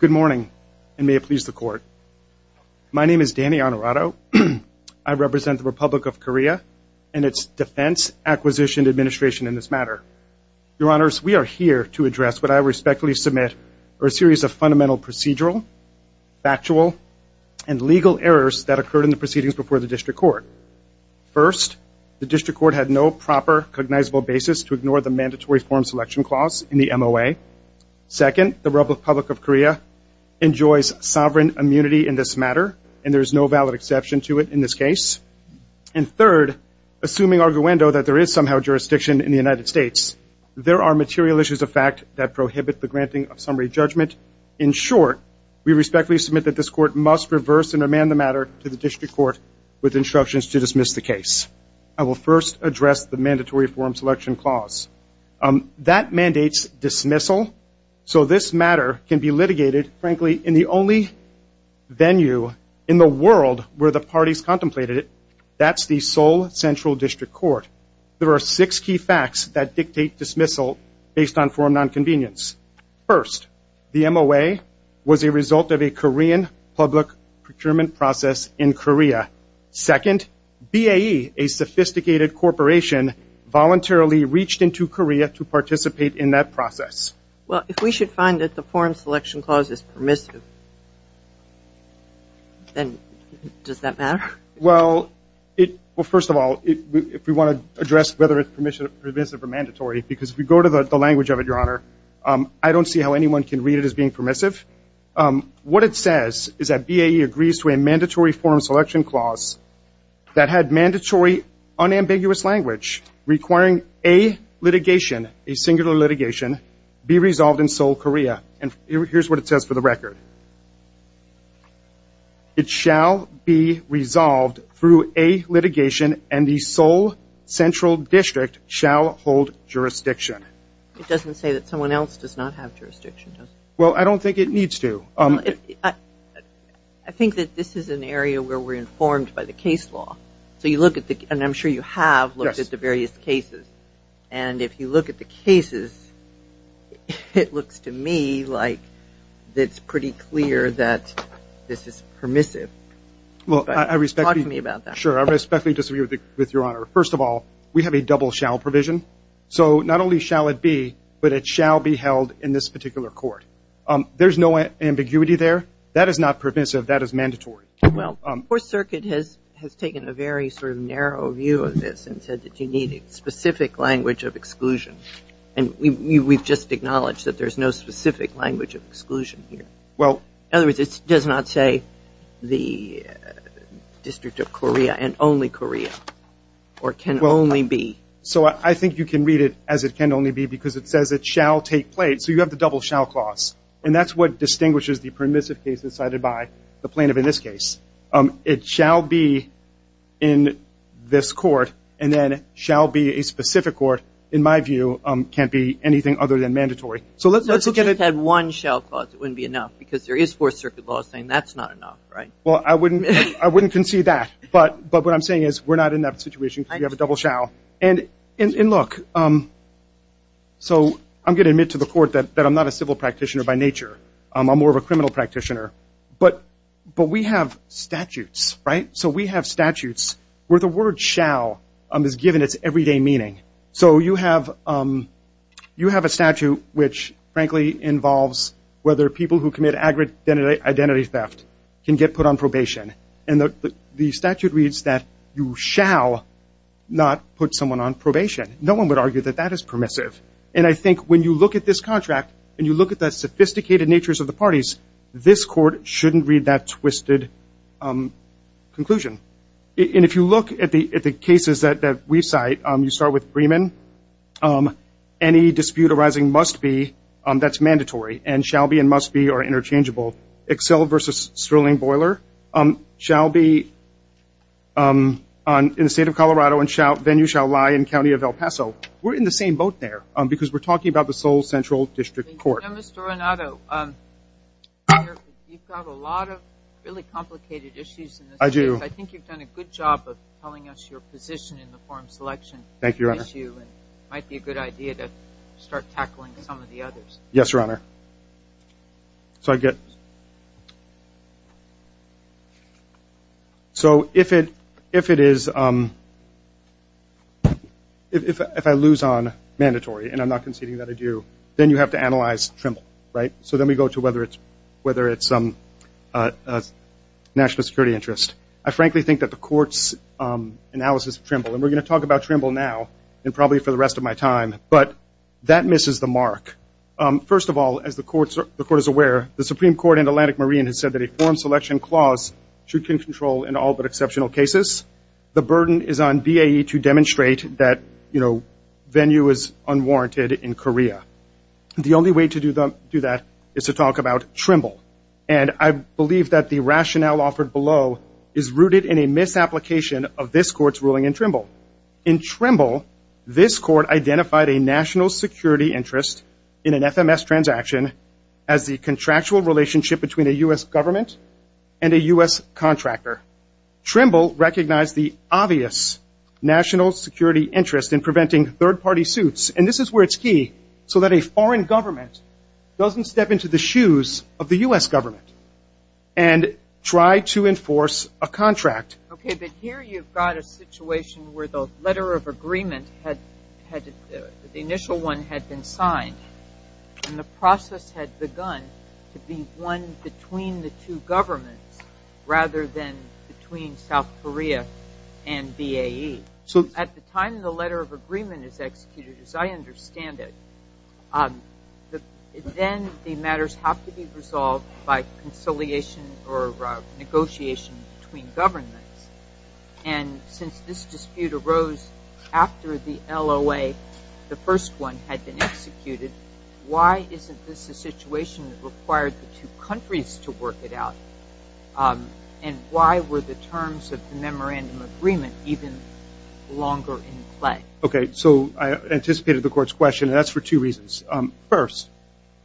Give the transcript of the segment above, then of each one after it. Good morning, and may it please the Court. My name is Danny Honorato. I represent the Republic of Korea and its Defense Acquisition Administration in this matter. Your Honors, we are here to address what I respectfully submit are a series of fundamental procedural, factual, and legal errors that occurred in the proceedings before the District Court. First, the District Court had no proper cognizable basis to ignore the Mandatory Form Selection Clause in the MOA. Second, the Republic of Korea enjoys sovereign immunity in this matter, and there is no valid exception to it in this case. And third, assuming arguendo that there is somehow jurisdiction in the United States, there are material issues of fact that prohibit the granting of summary judgment. In short, we respectfully submit that this Court must reverse and amend the matter to the District Court with instructions to dismiss the case. I will first address the Mandatory Form Selection Clause. That mandates dismissal, so this matter can be litigated, frankly, in the only venue in the world where the parties contemplated it. That's the Seoul Central District Court. There are six key facts that dictate dismissal based on form nonconvenience. First, the MOA was a result of a Korean public procurement process in Korea. Second, BAE, a sophisticated corporation, voluntarily reached into Korea to participate in that process. Well, if we should find that the Form Selection Clause is permissive, then does that matter? Well, first of all, if we want to address whether it's permissive or mandatory, because if we go to the language of it, Your Honor, I don't see how anyone can read it as being permissive. What it says is that BAE agrees to a Mandatory Form Selection Clause that had mandatory unambiguous language requiring a litigation, a singular litigation, be resolved in Seoul, Korea. Here's what it says for the record. It shall be resolved through a litigation and the Seoul Central District shall hold jurisdiction. It doesn't say that someone else does not have jurisdiction, does it? Well, I don't think it needs to. I think that this is an area where we're informed by the case law. So you look at the, and I'm sure you have looked at the various cases. And if you look at the cases, it looks to me like it's pretty clear that this is permissive. Well, I respect that. Talk to me about that. Sure. I respectfully disagree with Your Honor. First of all, we have a double shall provision. So not only shall it be, but it shall be held in this particular court. There's no ambiguity there. That is not permissive. That is mandatory. Well, Fourth Circuit has taken a very sort of narrow view of this and said that you need specific language of exclusion. And we've just acknowledged that there's no specific language of exclusion here. In other words, it does not say the District of Korea and only Korea or can only be. So I think you can read it as it can only be because it says it shall take place. So you have the double shall clause. And that's what distinguishes the permissive case decided by the plaintiff in this case. It shall be in this court and then shall be a specific court, in my view, can't be anything other than mandatory. So let's look at it. If you just had one shall clause, it wouldn't be enough. Because there is Fourth Circuit law saying that's not enough, right? Well, I wouldn't concede that. But what I'm saying is we're not in that situation because we have a double shall. And look, so I'm going to admit to the court that I'm not a civil practitioner by nature. I'm more of a criminal practitioner. But we have statutes, right? So we have statutes where the word shall is given its everyday meaning. So you have a statute which, frankly, involves whether people who commit identity theft can get put on probation. And the statute reads that you shall not put someone on probation. No one would argue that that is permissive. And I think when you look at this contract and you look at the sophisticated natures of the parties, this court shouldn't read that twisted conclusion. And if you look at the cases that we cite, you start with Freeman. Any dispute arising must be, that's mandatory, and shall be and must be are interchangeable. Excel versus Sterling Boiler shall be in the state of Colorado and venue shall lie in the county of El Paso. We're in the same boat there because we're talking about the Seoul Central District Court. Now, Mr. Renato, you've got a lot of really complicated issues in this case. I do. I think you've done a good job of telling us your position in the forum selection issue. Thank you, Your Honor. And it might be a good idea to start tackling some of the others. Yes, Your Honor. So if I lose on mandatory, and I'm not conceding that I do, then you have to analyze Trimble, right? So then we go to whether it's national security interest. I frankly think that the court's analysis of Trimble, and we're going to talk about Trimble now and probably for the rest of my time, but that misses the mark. First of all, as the court is aware, the Supreme Court and Atlantic Marine has said that a forum selection clause should be in control in all but exceptional cases. The burden is on BAE to demonstrate that venue is unwarranted in Korea. The only way to do that is to talk about Trimble. And I believe that the rationale offered below is rooted in a misapplication of this court's ruling in Trimble. In Trimble, this court identified a national security interest in an FMS transaction as the contractual relationship between a U.S. government and a U.S. contractor. Trimble recognized the obvious national security interest in preventing third-party suits. And this is where it's key, so that a foreign government doesn't step into the shoes of the U.S. government and try to enforce a contract. Okay, but here you've got a situation where the letter of agreement, the initial one had been signed, and the process had begun to be one between the two governments rather than between South Korea and BAE. So at the time the letter of agreement is executed, as I understand it, then the matters have to be resolved by conciliation or negotiation between governments. And since this dispute arose after the LOA, the first one, had been executed, why isn't this a situation that required the two countries to work it out? And why were the terms of the memorandum agreement even longer in play? Okay, so I anticipated the court's question, and that's for two reasons. First,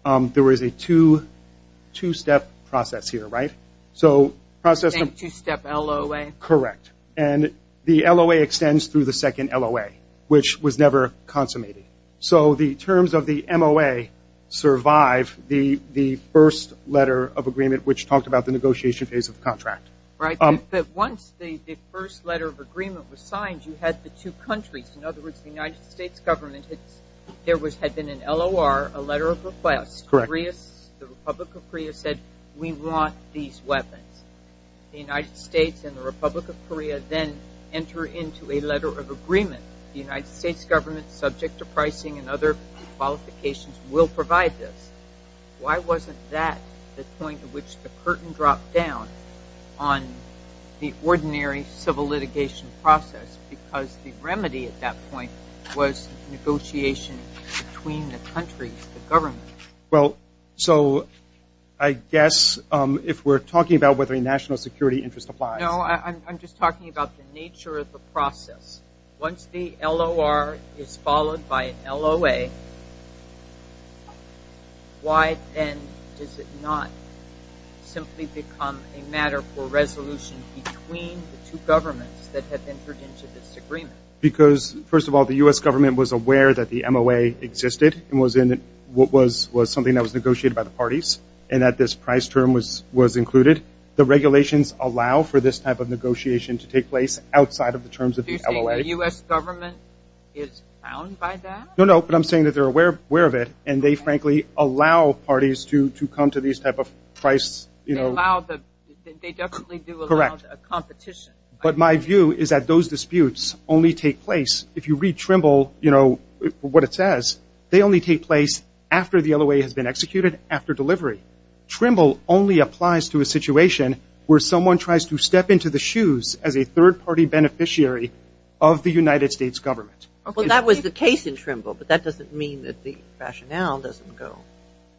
there is a two-step process here, right? So process... The same two-step LOA? Correct. And the LOA extends through the second LOA, which was never consummated. So the terms of the MOA survive the first letter of agreement, which talked about the negotiation phase of the contract. Right, but once the first letter of agreement was signed, you had the two countries, in an LOR, a letter of request. Correct. The Republic of Korea said, we want these weapons. The United States and the Republic of Korea then enter into a letter of agreement. The United States government, subject to pricing and other qualifications, will provide this. Why wasn't that the point at which the curtain dropped down on the ordinary civil litigation process? Because the remedy at that point was negotiation between the countries, the government. Well, so I guess if we're talking about whether a national security interest applies... No, I'm just talking about the nature of the process. Once the LOR is followed by an LOA, why then does it not simply become a matter for resolution between the two governments that have entered into this agreement? Because, first of all, the U.S. government was aware that the MOA existed and was something that was negotiated by the parties, and that this price term was included. The regulations allow for this type of negotiation to take place outside of the terms of the LOA. Do you think the U.S. government is bound by that? No, no, but I'm saying that they're aware of it, and they frankly allow parties to come to these type of price... They definitely do allow a competition. But my view is that those disputes only take place, if you read Trimble, what it says, they only take place after the LOA has been executed, after delivery. Trimble only applies to a situation where someone tries to step into the shoes as a third-party beneficiary of the United States government. Well, that was the case in Trimble, but that doesn't mean that the rationale doesn't go.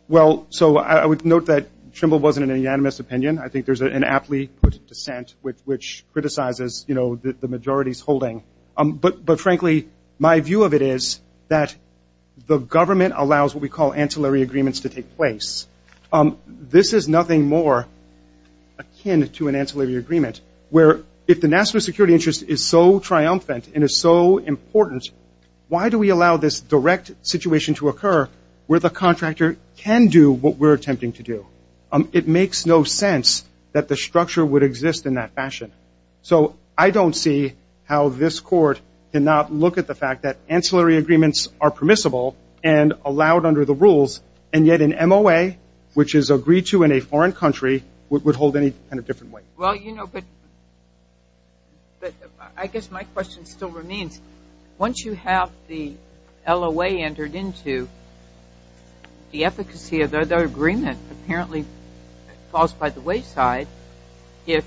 Well, so I would note that Trimble wasn't an unanimous opinion. I think there's an aptly put dissent which criticizes the majorities holding. But frankly, my view of it is that the government allows what we call ancillary agreements to take place. This is nothing more akin to an ancillary agreement, where if the national security interest is so triumphant and is so important, why do we allow this direct situation to occur where the contractor can do what we're attempting to do? It makes no sense that the structure would exist in that fashion. So I don't see how this court cannot look at the fact that ancillary agreements are permissible and allowed under the rules, and yet an MOA, which is agreed to in a foreign country, would hold any kind of different weight. Well, you know, but I guess my question still remains. Once you have the LOA entered into, the efficacy of the agreement apparently falls by the wayside if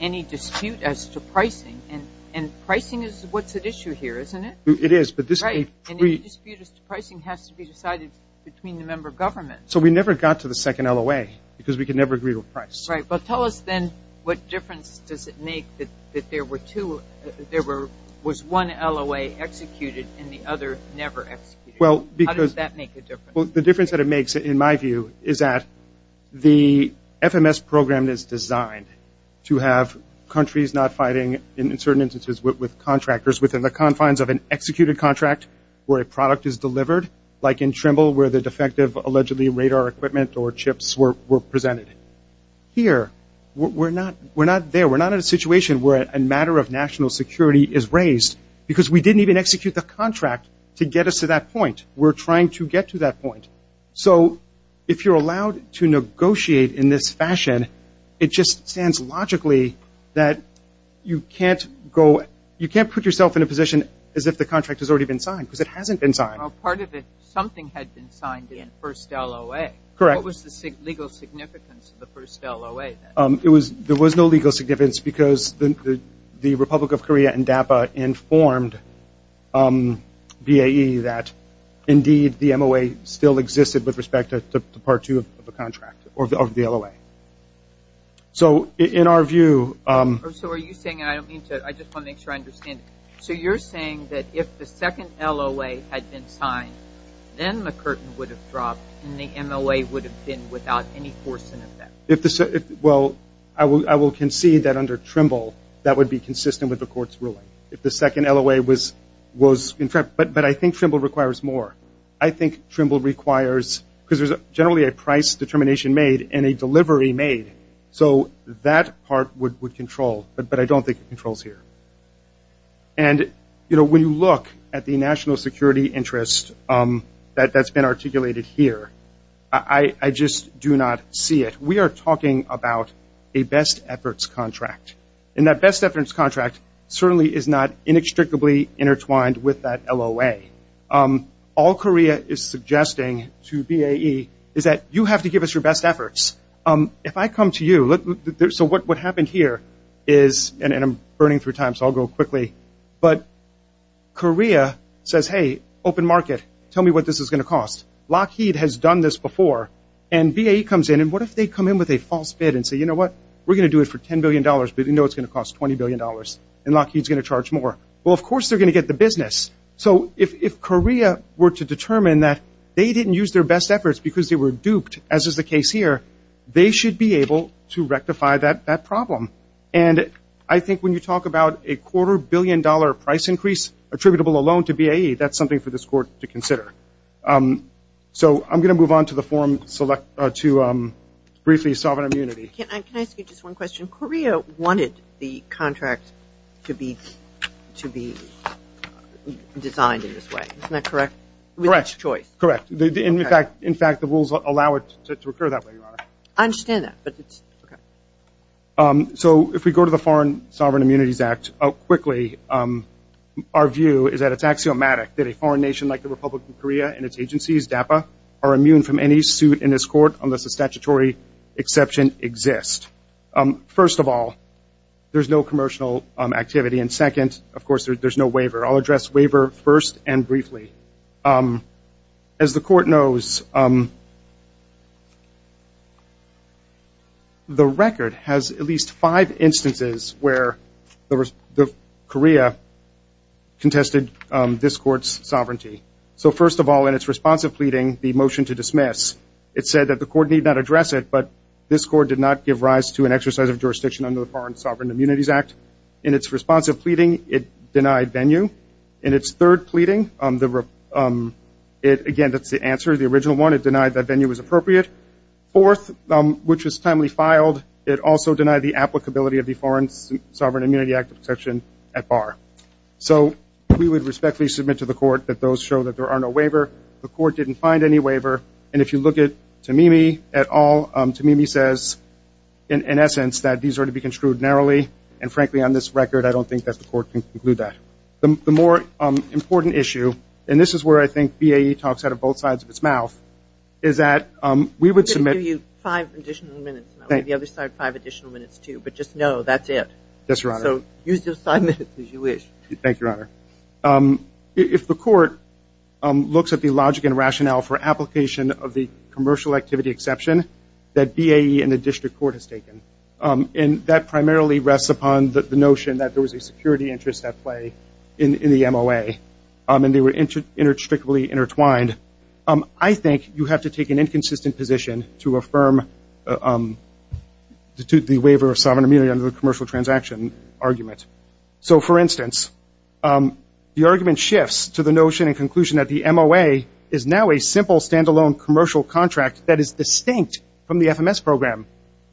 any dispute as to pricing, and pricing is what's at issue here, isn't it? It is, but this Right. Any dispute as to pricing has to be decided between the member governments. So we never got to the second LOA because we could never agree to a price. Right. Tell us then what difference does it make that there were two, there was one LOA executed and the other never executed? Well, because How does that make a difference? The difference that it makes, in my view, is that the FMS program is designed to have countries not fighting, in certain instances, with contractors within the confines of an executed contract where a product is delivered, like in Trimble where the defective allegedly radar equipment or chips were presented. Here, we're not there. We're not in a situation where a matter of national security is raised because we didn't even execute the contract to get us to that point. We're trying to get to that point. So if you're allowed to negotiate in this fashion, it just stands logically that you can't go, you can't put yourself in a position as if the contract has already been signed because it hasn't been signed. Part of it, something had been signed in the first LOA. Correct. What was the legal significance of the first LOA? There was no legal significance because the Republic of Korea and DAPA informed BAE that indeed the MOA still existed with respect to Part 2 of the contract, or the LOA. So in our view So are you saying, and I don't mean to, I just want to make sure I understand it. So you're saying that if the second LOA had been signed, then the curtain would have been without any force in effect? Well, I will concede that under Trimble, that would be consistent with the court's ruling. If the second LOA was, but I think Trimble requires more. I think Trimble requires, because there's generally a price determination made and a delivery made. So that part would control, but I don't think it controls here. And when you look at the national security interest that's been articulated here, I just do not see it. We are talking about a best efforts contract. And that best efforts contract certainly is not inextricably intertwined with that LOA. All Korea is suggesting to BAE is that you have to give us your best efforts. If I come to you, so what happened here is, and I'm burning through time, so I'll go quickly. But Korea says, hey, open market, tell me what this is going to cost. Lockheed has done this before. And BAE comes in. And what if they come in with a false bid and say, you know what, we're going to do it for $10 billion, but you know it's going to cost $20 billion. And Lockheed's going to charge more. Well, of course, they're going to get the business. So if Korea were to determine that they didn't use their best efforts because they were duped, as is the case here, they should be able to rectify that problem. And I think when you talk about a quarter billion dollar price increase attributable alone to BAE, that's something for this court to consider. So I'm going to move on to the forum to briefly sovereign immunity. Can I ask you just one question? Korea wanted the contract to be designed in this way. Isn't that correct? Correct. With its choice. Correct. In fact, the rules allow it to occur that way, Your Honor. I understand that. So if we go to the Foreign Sovereign Immunities Act, quickly, our view is that it's axiomatic that a foreign nation like the Republic of Korea and its agencies, DAPA, are immune from any suit in this court unless a statutory exception exists. First of all, there's no commercial activity. And second, of course, there's no waiver. I'll address waiver first and briefly. As the court knows, the record has at least five instances where the Korea contested this sovereignty. So first of all, in its responsive pleading, the motion to dismiss, it said that the court need not address it, but this court did not give rise to an exercise of jurisdiction under the Foreign Sovereign Immunities Act. In its responsive pleading, it denied venue. In its third pleading, again, that's the answer, the original one. It denied that venue was appropriate. Fourth, which was timely filed, it also denied the applicability of the Foreign Sovereign Immunity Act exception at bar. So we would respectfully submit to the court that those show that there are no waiver. The court didn't find any waiver. And if you look at Tamimi at all, Tamimi says, in essence, that these are to be construed narrowly. And frankly, on this record, I don't think that the court can conclude that. The more important issue, and this is where I think BAE talks out of both sides of its mouth, is that we would submit- I'm going to give you five additional minutes, and I'll give the other side five additional minutes too. But just know that's it. Yes, Your Honor. So use your five minutes as you wish. Thank you, Your Honor. If the court looks at the logic and rationale for application of the commercial activity exception that BAE and the district court has taken, and that primarily rests upon the notion that there was a security interest at play in the MOA, and they were intricately intertwined, I think you have to take an inconsistent position to affirm the waiver of sovereign immunity under the commercial transaction argument. So for instance, the argument shifts to the notion and conclusion that the MOA is now a simple standalone commercial contract that is distinct from the FMS program.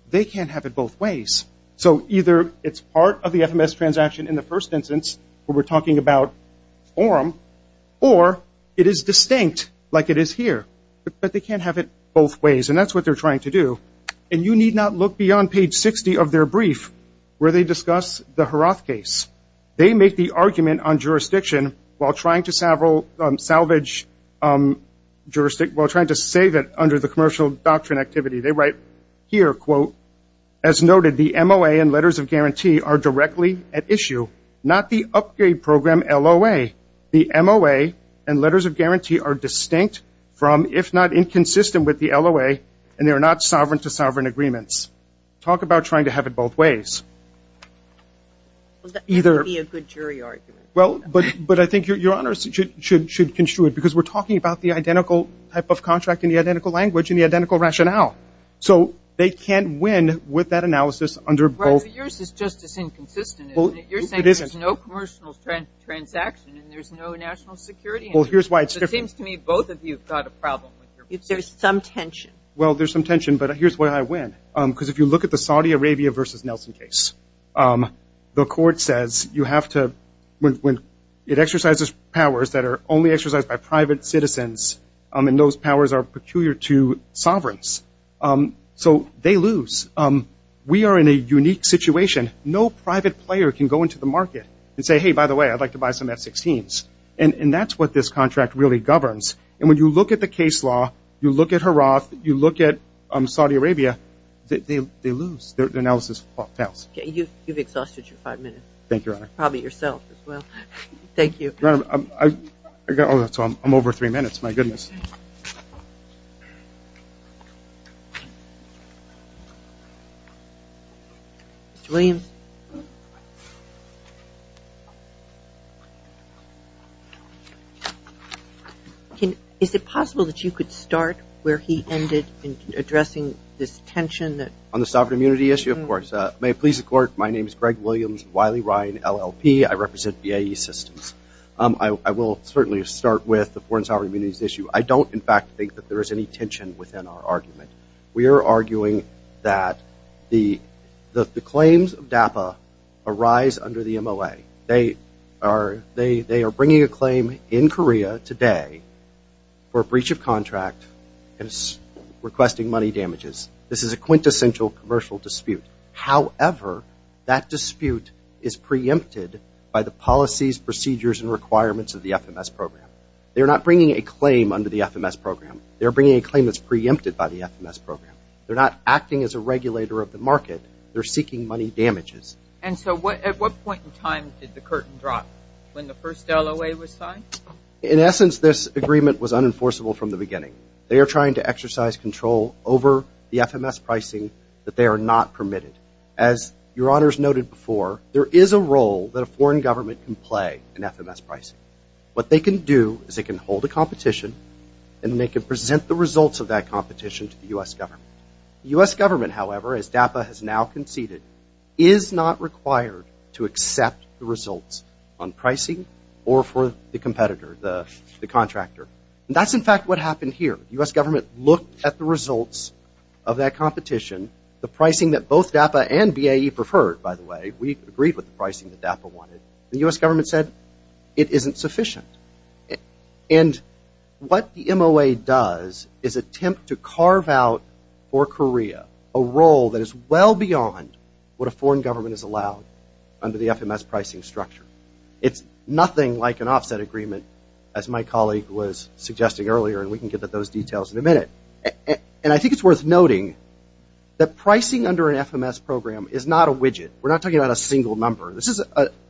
They can't have it both ways. So either it's part of the FMS transaction in the first instance, where we're talking about forum, or it is distinct like it is here. But they can't have it both ways. And that's what they're trying to do. And you need not look beyond page 60 of their brief, where they discuss the Heroth case. They make the argument on jurisdiction while trying to salvage jurisdiction, while trying to save it under the commercial doctrine activity. They write here, quote, as noted, the MOA and letters of guarantee are directly at issue, not the upgrade program LOA. The MOA and letters of guarantee are distinct from, if not inconsistent with the LOA, and they're not sovereign-to-sovereign agreements. Talk about trying to have it both ways. Either- That would be a good jury argument. Well, but I think Your Honor should construe it. Because we're talking about the identical type of contract, and the identical language, and the identical rationale. So they can't win with that analysis under both- Right, but yours is just as inconsistent, isn't it? You're saying there's no commercial transaction, and there's no national security. Well, here's why it's different. It seems to me both of you have got a problem with your- There's some tension. Well, there's some tension. But here's why I win. Because if you look at the Saudi Arabia versus Nelson case, the court says you have to, when it exercises powers that are only exercised by private citizens, and those powers are peculiar to sovereigns, so they lose. We are in a unique situation. No private player can go into the market and say, hey, by the way, I'd like to buy some F-16s. And that's what this contract really governs. And when you look at the case law, you look at Haraf, you look at Saudi Arabia, they lose. Their analysis fails. Okay. You've exhausted your five minutes. Thank you, Your Honor. Probably yourself as well. Thank you. My goodness. Mr. Williams? Can- Is it possible that you could start where he ended in addressing this tension that- On the sovereign immunity issue, of course. May it please the court, my name is Greg Williams, Wiley, Ryan, LLP. I represent BAE Systems. I will certainly start with the foreign sovereign immunity issue. I don't, in fact, think that there is any tension within our argument. We are arguing that the claims of DAPA arise under the MOA. They are bringing a claim in Korea today for a breach of contract and requesting money damages. This is a quintessential commercial dispute. However, that dispute is preempted by the policies, procedures, and requirements of the FMS program. They're not bringing a claim under the FMS program. They're bringing a claim that's preempted by the FMS program. They're not acting as a regulator of the market. They're seeking money damages. And so what- At what point in time did the curtain drop? When the first LOA was signed? In essence, this agreement was unenforceable from the beginning. They are trying to exercise control over the FMS pricing that they are not permitted. As Your Honors noted before, there is a role that a foreign government can play in FMS pricing. What they can do is they can hold a competition and they can present the results of that competition to the U.S. government. The U.S. government, however, as DAPA has now conceded, is not required to accept the results on pricing or for the competitor, the contractor. That's in fact what happened here. The U.S. government looked at the results of that competition, the pricing that both DAPA and BAE preferred, by the way. We agreed with the pricing that DAPA wanted. The U.S. government said it isn't sufficient. And what the MOA does is attempt to carve out for Korea a role that is well beyond what a foreign government is allowed under the FMS pricing structure. It's nothing like an offset agreement, as my colleague was suggesting earlier, and we can get to those details in a minute. And I think it's worth noting that pricing under an FMS program is not a widget. We're not talking about a single number. This is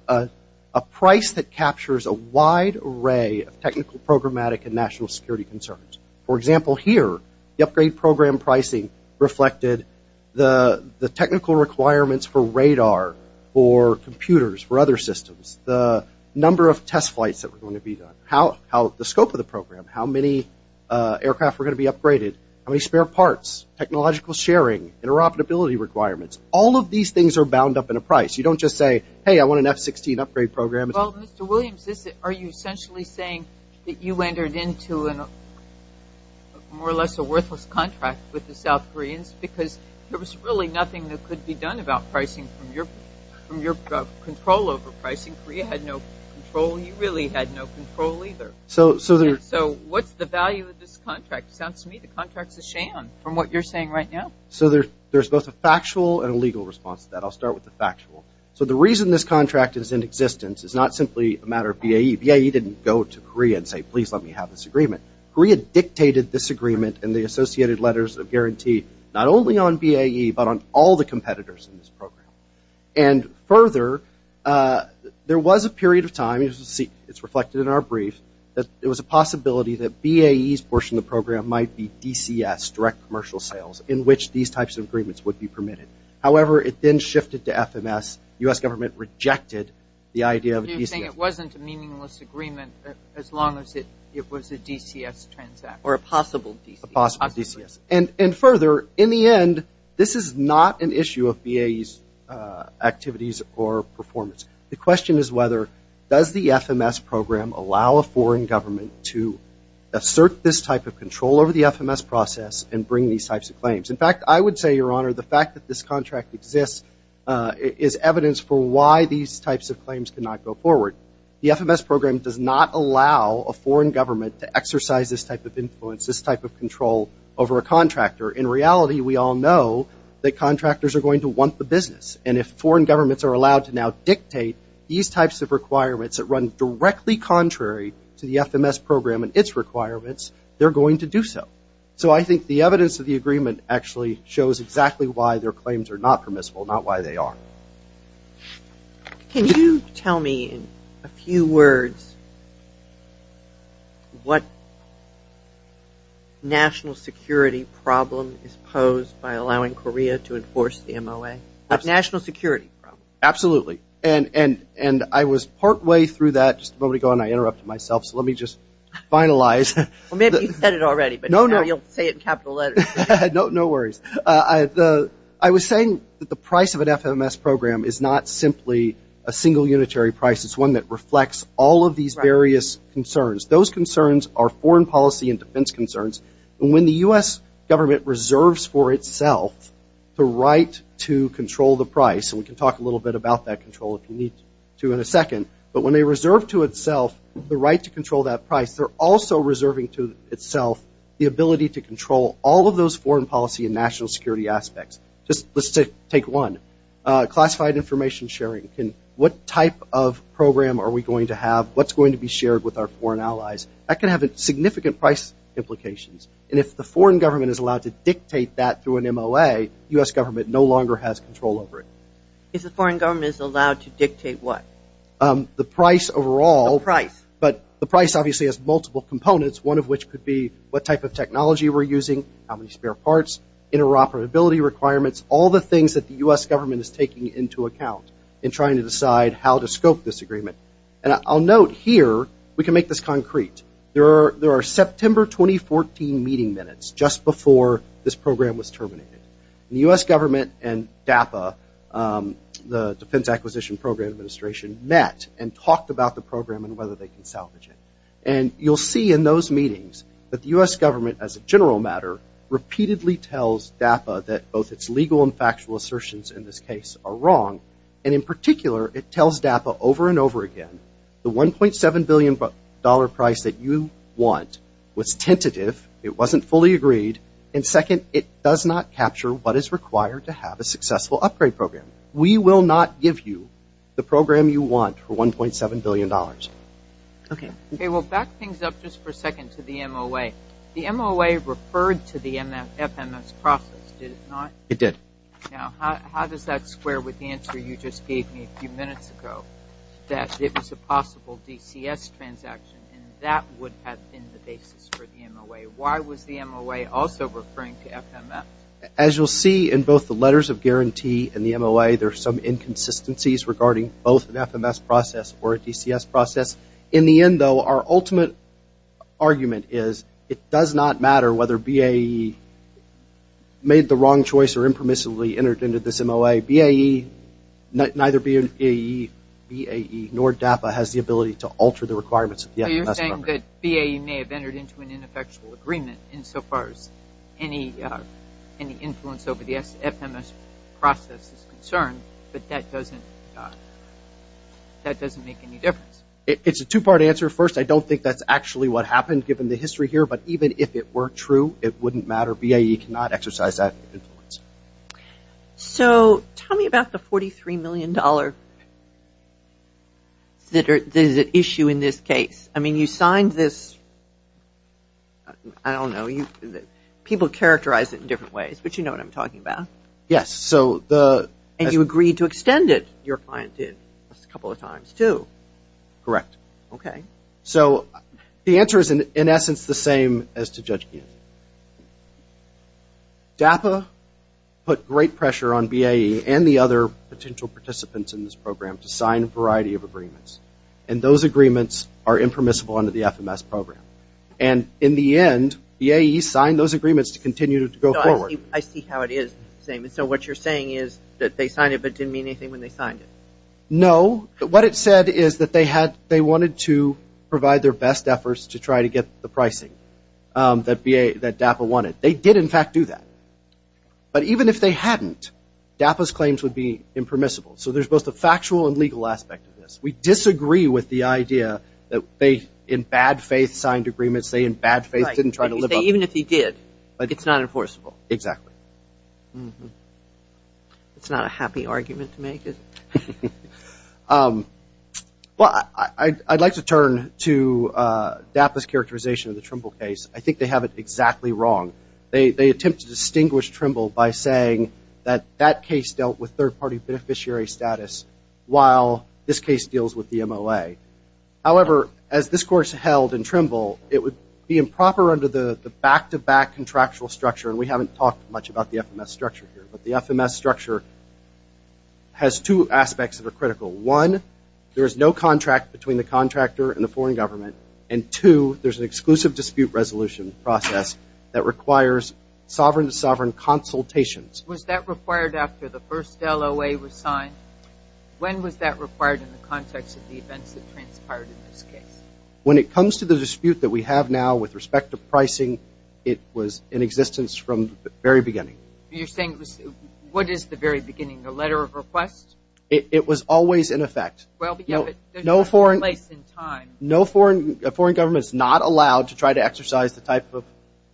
a price that captures a wide array of technical, programmatic, and national security concerns. For example, here, the upgrade program pricing reflected the technical requirements for radar, for computers, for other systems, the number of test flights that were going to be done, the scope of the program, how many aircraft were going to be upgraded, how many spare parts, technological sharing, interoperability requirements. All of these things are bound up in a price. You don't just say, hey, I want an F-16 upgrade program. Well, Mr. Williams, are you essentially saying that you entered into more or less a worthless contract with the South Koreans because there was really nothing that could be done about pricing from your control over pricing? Korea had no control. You really had no control either. So what's the value of this contract? Sounds to me the contract's a sham from what you're saying right now. So there's both a factual and a legal response to that. I'll start with the factual. So the reason this contract is in existence is not simply a matter of BAE. BAE didn't go to Korea and say, please let me have this agreement. Korea dictated this agreement and the associated letters of guarantee not only on BAE but on all the competitors in this program. And further, there was a period of time, as you'll see, it's reflected in our brief, that there was a possibility that BAE's portion of the program might be DCS, direct commercial sales, in which these types of agreements would be permitted. However, it then shifted to FMS. U.S. government rejected the idea of DCS. You're saying it wasn't a meaningless agreement as long as it was a DCS transact, or a possible DCS. A possible DCS. And further, in the end, this is not an issue of BAE's activities or performance. The question is whether does the FMS program allow a foreign government to assert this type of control over the FMS process and bring these types of claims? In fact, I would say, your honor, the fact that this contract exists is evidence for why these types of claims cannot go forward. The FMS program does not allow a foreign government to exercise this type of influence, this type of control over a contractor. In reality, we all know that contractors are going to want the business. And if foreign governments are allowed to now dictate these types of requirements that run directly contrary to the FMS program and its requirements, they're going to do so. So I think the evidence of the agreement actually shows exactly why their claims are not permissible, not why they are. Can you tell me in a few words what national security problem is posed by allowing Korea to enforce the MOA? National security problem. Absolutely. And I was partway through that, just a moment ago, and I interrupted myself. So let me just finalize. Well, maybe you said it already. You'll say it in capital letters. No worries. I was saying that the price of an FMS program is not simply a single unitary price. It's one that reflects all of these various concerns. Those concerns are foreign policy and defense concerns. When the U.S. government reserves for itself the right to control the price, and we can talk a little bit about that control if you need to in a second. But when they reserve to itself the right to control that price, they're also reserving to itself the ability to control all of those foreign policy and national security aspects. Just let's take one. Classified information sharing. What type of program are we going to have? What's going to be shared with our foreign allies? That can have significant price implications. And if the foreign government is allowed to dictate that through an MOA, U.S. government no longer has control over it. If the foreign government is allowed to dictate what? The price overall. The price. Obviously has multiple components. One of which could be what type of technology we're using, how many spare parts, interoperability requirements, all the things that the U.S. government is taking into account in trying to decide how to scope this agreement. And I'll note here, we can make this concrete. There are September 2014 meeting minutes just before this program was terminated. The U.S. government and DAPA, the Defense Acquisition Program Administration, met and you'll see in those meetings that the U.S. government as a general matter repeatedly tells DAPA that both its legal and factual assertions in this case are wrong. And in particular, it tells DAPA over and over again, the $1.7 billion price that you want was tentative. It wasn't fully agreed. And second, it does not capture what is required to have a successful upgrade program. We will not give you the program you want for $1.7 billion. Okay, we'll back things up just for a second to the MOA. The MOA referred to the FMS process, did it not? It did. Now, how does that square with the answer you just gave me a few minutes ago that it was a possible DCS transaction and that would have been the basis for the MOA? Why was the MOA also referring to FMS? As you'll see in both the letters of guarantee and the MOA, there are some inconsistencies regarding both an FMS process or a DCS process. In the end, though, our ultimate argument is it does not matter whether BAE made the wrong choice or impermissibly entered into this MOA, BAE, neither BAE nor DAPA has the ability to alter the requirements of the FMS program. So you're saying that BAE may have entered into an ineffectual agreement insofar as any influence over the FMS process is concerned, but that doesn't make any difference? It's a two-part answer. First, I don't think that's actually what happened given the history here, but even if it were true, it wouldn't matter. BAE cannot exercise that influence. So tell me about the $43 million issue in this case. I mean, you signed this, I don't know, people characterize it in different ways, but you know what I'm talking about. Yes, so the... And you agreed to extend it, your client did, a couple of times, too. Correct. Okay. So the answer is, in essence, the same as to Judge Keenan. DAPA put great pressure on BAE and the other potential participants in this program to sign a variety of agreements, and those agreements are impermissible under the FMS program. And in the end, BAE signed those agreements to continue to go forward. I see how it is the same. And so what you're saying is that they signed it but didn't mean anything when they signed it? No. What it said is that they wanted to provide their best efforts to try to get the pricing that DAPA wanted. They did, in fact, do that. But even if they hadn't, DAPA's claims would be impermissible. So there's both the factual and legal aspect of this. We disagree with the idea that they, in bad faith, signed agreements. They, in bad faith, didn't try to live up to... Even if he did, it's not enforceable. Exactly. It's not a happy argument to make. Well, I'd like to turn to DAPA's characterization of the Trimble case. I think they have it exactly wrong. They attempt to distinguish Trimble by saying that that case dealt with third-party beneficiary status while this case deals with the MOA. However, as this course held in Trimble, it would be improper under the back-to-back contractual structure, and we haven't talked much about the FMS structure here, but the FMS structure has two aspects that are critical. One, there is no contract between the contractor and the foreign government. And two, there's an exclusive dispute resolution process that requires sovereign-to-sovereign consultations. Was that required after the first LOA was signed? When was that required in the context of the events that transpired in this case? When it comes to the dispute that we have now with respect to pricing, it was in existence from the very beginning. You're saying, what is the very beginning? A letter of request? It was always in effect. No foreign government is not allowed to try to exercise the type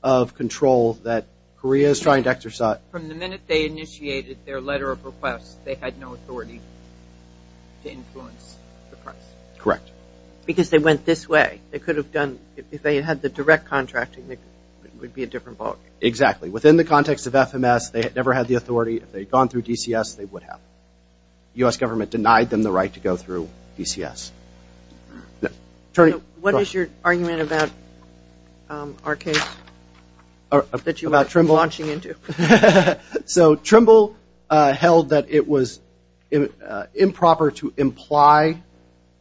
of control that Korea is trying to exercise. From the minute they initiated their letter of request, they had no authority to influence the price? Correct. Because they went this way. They could have done, if they had the direct contracting, it would be a different ballgame. Exactly. Within the context of FMS, they never had the authority. If they had gone through DCS, they would have. The U.S. government denied them the right to go through DCS. What is your argument about our case that you were launching into? So Trimble held that it was improper to imply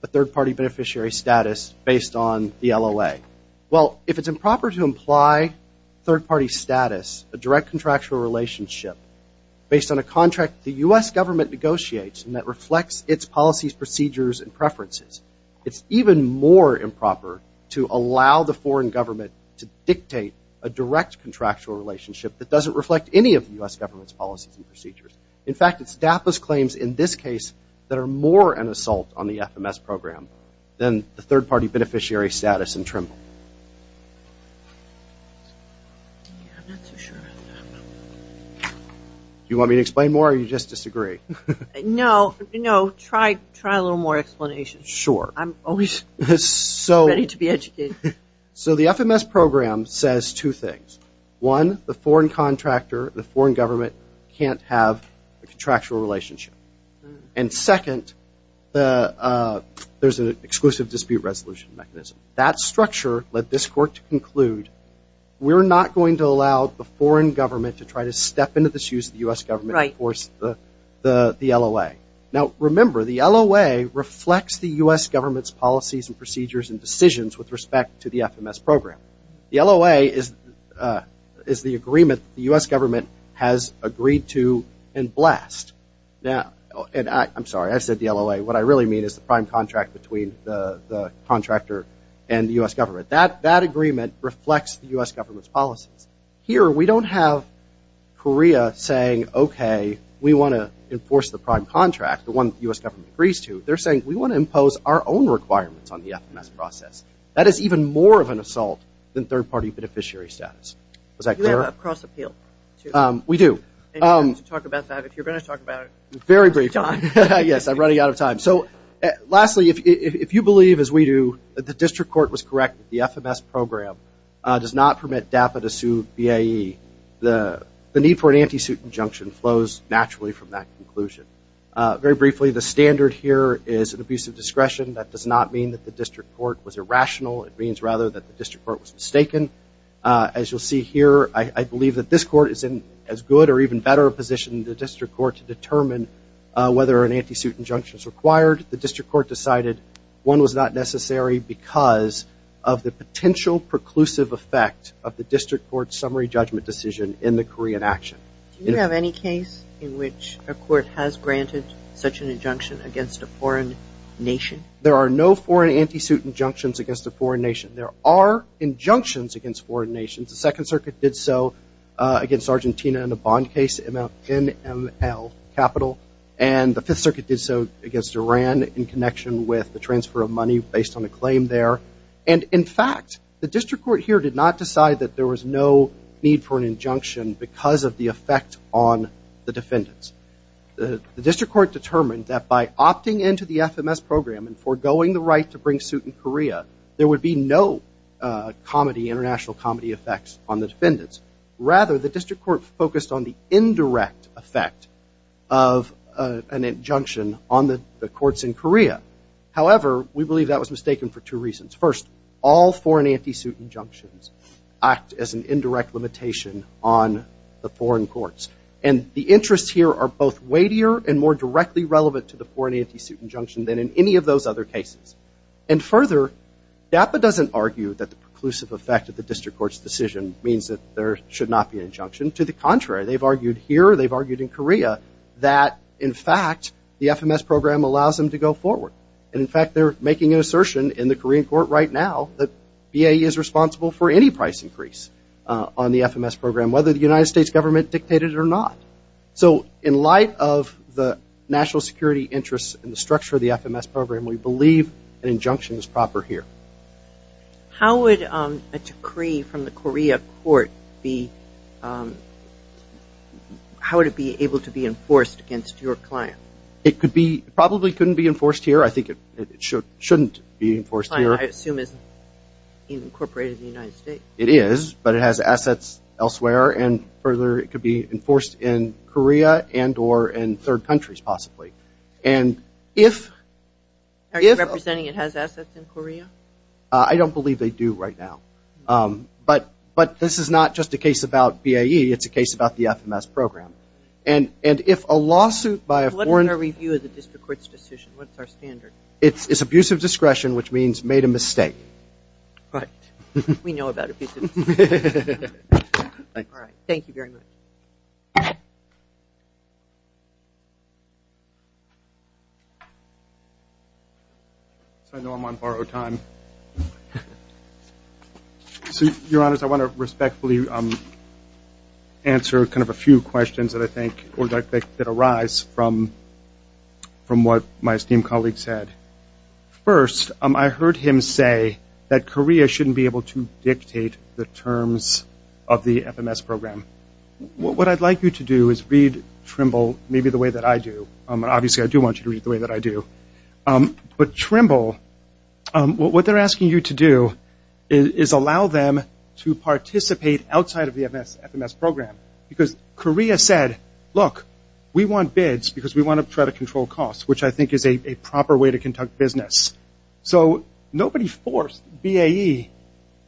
a third-party beneficiary status based on the LOA. Well, if it's improper to imply third-party status, a direct contractual relationship, based on a contract the U.S. government negotiates and that reflects its policies, procedures, and preferences, it's even more improper to allow the foreign government to dictate a direct contractual relationship that doesn't reflect any of the U.S. government's policies and procedures. In fact, it's DAPA's claims in this case that are more an assault on the FMS program than the third-party beneficiary status in Trimble. Do you want me to explain more or do you just disagree? No, try a little more explanation. Sure. I'm always ready to be educated. So the FMS program says two things. One, the foreign contractor, the foreign government can't have a contractual relationship. And second, there's an exclusive dispute resolution mechanism. That structure led this court to conclude we're not going to allow the foreign government to try to step into the shoes of the U.S. government and force the LOA. Now, remember, the LOA reflects the U.S. government's policies and procedures and to the FMS program. The LOA is the agreement the U.S. government has agreed to and blessed. Now, and I'm sorry, I said the LOA. What I really mean is the prime contract between the contractor and the U.S. government. That agreement reflects the U.S. government's policies. Here, we don't have Korea saying, okay, we want to enforce the prime contract, the one the U.S. government agrees to. They're saying we want to impose our own requirements on the FMS process. That is even more of an assault than third-party beneficiary status. Was that clear? You have a cross appeal, too. We do. And you have to talk about that. If you're going to talk about it, John. Very briefly. Yes, I'm running out of time. So lastly, if you believe, as we do, that the district court was correct, the FMS program does not permit DAPA to sue BAE, the need for an anti-suit injunction flows naturally from that conclusion. Very briefly, the standard here is an abuse of discretion. That does not mean that the district court was irrational. It means, rather, that the district court was mistaken. As you'll see here, I believe that this court is in as good or even better a position than the district court to determine whether an anti-suit injunction is required. The district court decided one was not necessary because of the potential preclusive effect of the district court's summary judgment decision in the Korean action. Do you have any case in which a court has granted such an injunction against a foreign nation? There are no foreign anti-suit injunctions against a foreign nation. There are injunctions against foreign nations. The Second Circuit did so against Argentina in the bond case, NML Capital. And the Fifth Circuit did so against Iran in connection with the transfer of money based on a claim there. And in fact, the district court here did not decide that there was no need for an injunction because of the effect on the defendants. The district court determined that by opting into the FMS program and forgoing the right to bring suit in Korea, there would be no comedy, international comedy effects on the defendants. Rather, the district court focused on the indirect effect of an injunction on the courts in Korea. However, we believe that was mistaken for two reasons. First, all foreign anti-suit injunctions act as an indirect limitation on the foreign courts. And the interests here are both weightier and more directly relevant to the foreign anti-suit injunction than in any of those other cases. And further, DAPA doesn't argue that the preclusive effect of the district court's decision means that there should not be an injunction. To the contrary, they've argued here, they've argued in Korea that, in fact, the FMS program allows them to go forward. And in fact, they're making an assertion in the Korean court right now that BAE is responsible for any price increase on the FMS program, whether the United States government dictated it or not. So in light of the national security interests and the structure of the FMS program, we believe an injunction is proper here. How would a decree from the Korea court be, how would it be able to be enforced against your client? It could be, probably couldn't be enforced here. I think it shouldn't be enforced here. I assume it's incorporated in the United States. It is, but it has assets elsewhere. And further, it could be enforced in Korea and or in third countries, possibly. Are you representing it has assets in Korea? I don't believe they do right now. But this is not just a case about BAE. It's a case about the FMS program. And if a lawsuit by a foreign- What is our review of the district court's decision? What's our standard? It's abusive discretion, which means made a mistake. Right. We know about abuses. All right. Thank you very much. So I know I'm on borrow time. So your honors, I want to respectfully answer kind of a few questions that I think or that arise from what my esteemed colleague said. First, I heard him say that Korea shouldn't be able to dictate the terms of the FMS program. What I'd like you to do is read Trimble maybe the way that I do. Obviously, I do want you to read the way that I do. But Trimble, what they're asking you to do is allow them to participate outside of the FMS program. Because Korea said, look, we want bids because we want to try to control costs, which I think is a proper way to conduct business. So nobody forced BAE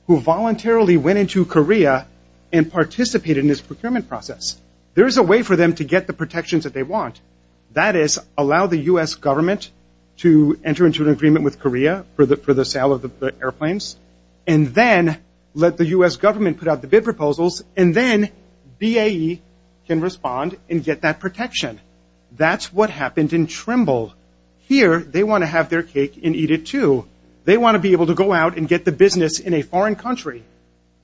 who voluntarily went into Korea and participated in this procurement process. There is a way for them to get the protections that they want. That is, allow the U.S. government to enter into an agreement with Korea for the sale of the airplanes. And then let the U.S. government put out the bid proposals. And then BAE can respond and get that protection. That's what happened in Trimble. Here, they want to have their cake and eat it, too. They want to be able to go out and get the business in a foreign country,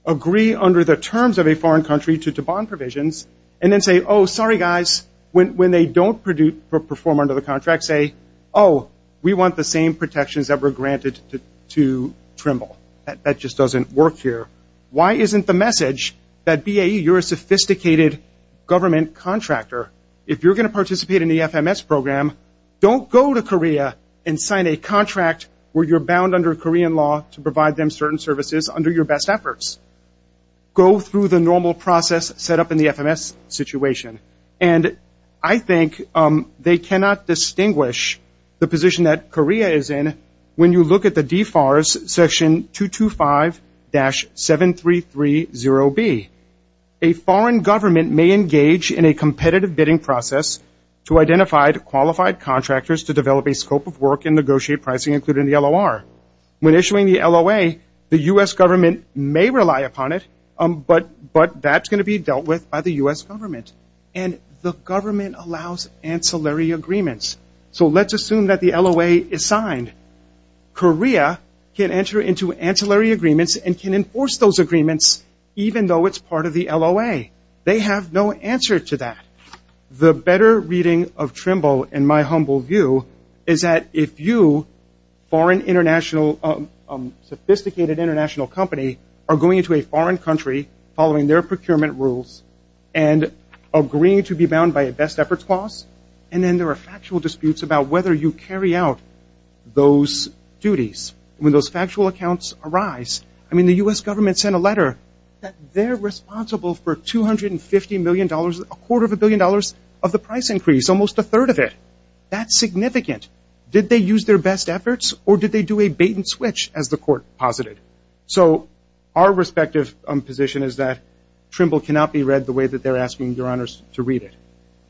agree under the terms of a foreign country to bond provisions, and then say, oh, sorry, guys. When they don't perform under the contract, say, oh, we want the same protections that were granted to Trimble. That just doesn't work here. Why isn't the message that BAE, you're a sophisticated government contractor. If you're going to participate in the FMS program, don't go to Korea and sign a contract where you're bound under Korean law to provide them certain services under your best efforts. Go through the normal process set up in the FMS situation. And I think they cannot distinguish the position that Korea is in when you look at the DFARS section 225-7330B. A foreign government may engage in a competitive bidding process to identify qualified contractors to develop a scope of work and negotiate pricing, including the LOR. When issuing the LOA, the U.S. government may rely upon it, but that's going to be dealt with by the U.S. government. And the government allows ancillary agreements. So let's assume that the LOA is signed. Korea can enter into ancillary agreements and can enforce those agreements even though it's part of the LOA. They have no answer to that. The better reading of Trimble, in my humble view, is that if you, a sophisticated international company, are going into a foreign country following their procurement rules and agreeing to be bound by a best efforts clause, and then there are factual disputes about whether you carry out those duties when those factual accounts arise. I mean, the U.S. government sent a letter that they're responsible for $250 million, a quarter of a billion dollars of the price increase, almost a third of it. That's significant. Did they use their best efforts or did they do a bait and switch, as the court posited? So our respective position is that Trimble cannot be read the way that they're asking your honors to read it.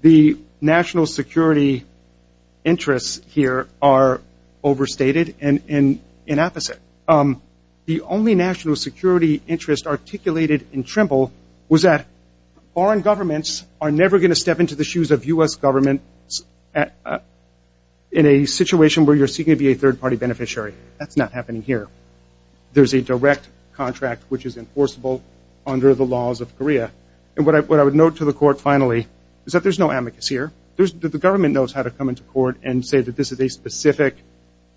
The national security interests here are overstated and in opposite. The only national security interest articulated in Trimble was that foreign governments are never going to step into the shoes of U.S. government in a situation where you're seeking to be a third-party beneficiary. That's not happening here. There's a direct contract which is enforceable under the laws of Korea. And what I would note to the court, finally, is that there's no amicus here. The government knows how to come into court and say that this is a specific,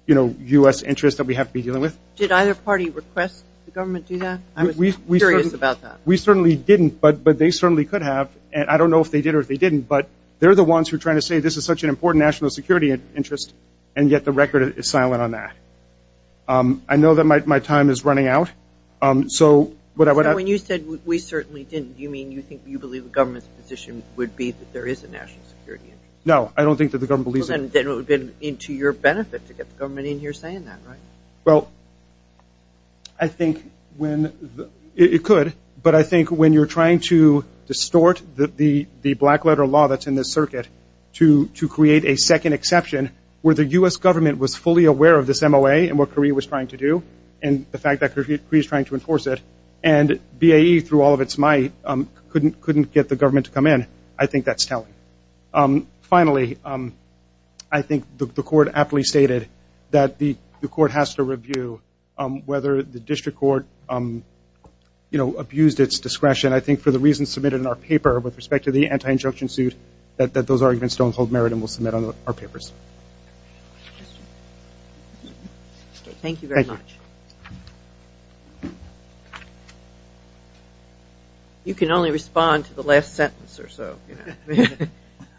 you know, U.S. interest that we have to be dealing with. Did either party request the government do that? I was curious about that. We certainly didn't, but they certainly could have. And I don't know if they did or if they didn't, but they're the ones who are trying to say this is such an important national security interest, and yet the record is silent on that. I know that my time is running out. So what I would... When you said we certainly didn't, do you mean you think you believe the government's position would be that there is a national security interest? No, I don't think that the government believes... Then it would be to your benefit to get the government in here saying that, right? Well, I think when... It could, but I think when you're trying to distort the black letter law that's in this circuit to create a second exception where the U.S. government was fully aware of this MOA and what Korea was trying to do, and the fact that Korea is trying to enforce it, and BAE, through all of its might, couldn't get the government to come in. I think that's telling. Finally, I think the court aptly stated that the court has to review whether the district court abused its discretion. I think for the reasons submitted in our paper with respect to the anti-injunction suit, that those arguments don't hold merit and we'll submit on our papers. Thank you very much. You can only respond to the last sentence or so.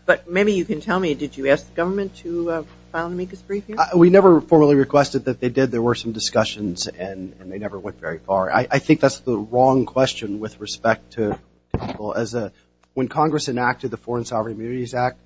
But maybe you can tell me, did you ask the government to file an amicus brief here? We never formally requested that they did. There were some discussions and they never went very far. I think that's the wrong question with respect to... When Congress enacted the Foreign Sovereign Immunities Act,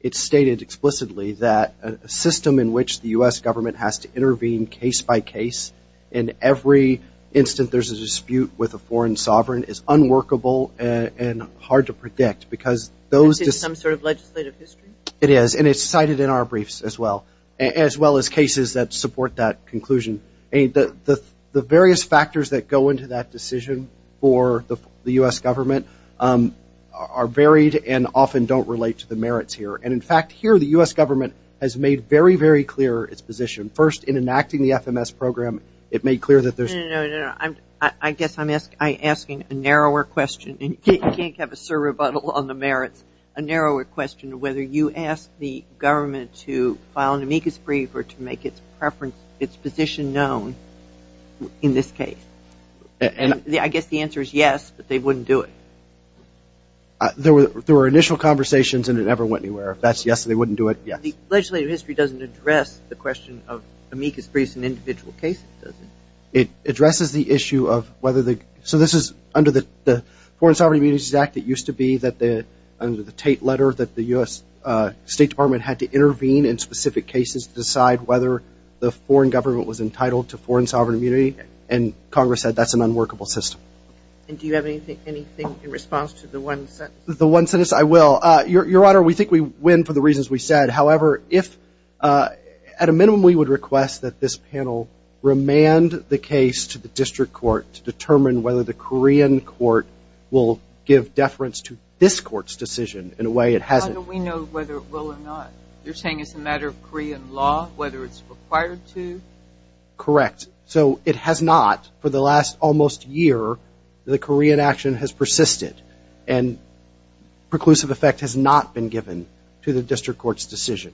it stated explicitly that a system in which the U.S. government has to intervene case by case in every instant there's a dispute with a foreign sovereign is unworkable and hard to predict. Is this some sort of legislative history? It is and it's cited in our briefs as well, as well as cases that support that conclusion. The various factors that go into that decision for the U.S. government are varied and often don't relate to the merits here. And in fact, here the U.S. government has made very, very clear its position. First, in enacting the FMS program, it made clear that there's... I guess I'm asking a narrower question. You can't have a surrebuttal on the merits. A narrower question of whether you ask the government to file an amicus brief or to make its preference, its position known in this case. I guess the answer is yes, but they wouldn't do it. There were initial conversations and it never went anywhere. If that's yes, they wouldn't do it. Yes. Legislative history doesn't address the question of amicus briefs in individual cases, does it? It addresses the issue of whether the... This is under the Foreign Sovereign Immunities Act. It used to be that under the Tate letter that the U.S. State Department had to intervene in specific cases to decide whether the foreign government was entitled to foreign sovereign immunity, and Congress said that's an unworkable system. And do you have anything in response to the one sentence? The one sentence? I will. Your Honor, we think we win for the reasons we said. However, at a minimum, we would request that this panel remand the case to the district court to determine whether the Korean court will give deference to this court's decision in a way it hasn't. Your Honor, we know whether it will or not. You're saying it's a matter of Korean law, whether it's required to? Correct. So it has not. For the last almost year, the Korean action has persisted and preclusive effect has not been given to the district court's decision.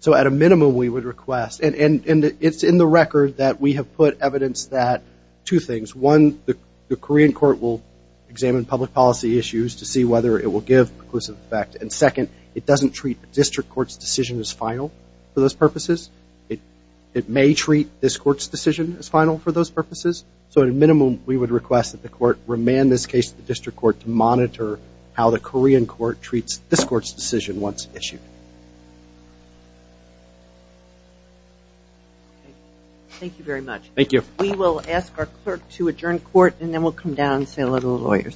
So at a minimum, we would request, and it's in the record that we have put evidence that two things. One, the Korean court will examine public policy issues to see whether it will give preclusive effect. And second, it doesn't treat the district court's decision as final for those purposes. It may treat this court's decision as final for those purposes. So at a minimum, we would request that the court remand this case to the district court to monitor how the Korean court treats this court's decision once issued. Thank you very much. Thank you. We will ask our clerk to adjourn court and then we'll come down and say hello to the lawyers.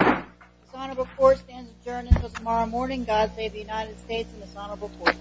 This honorable court stands adjourned until tomorrow morning. God save the United States and this honorable court.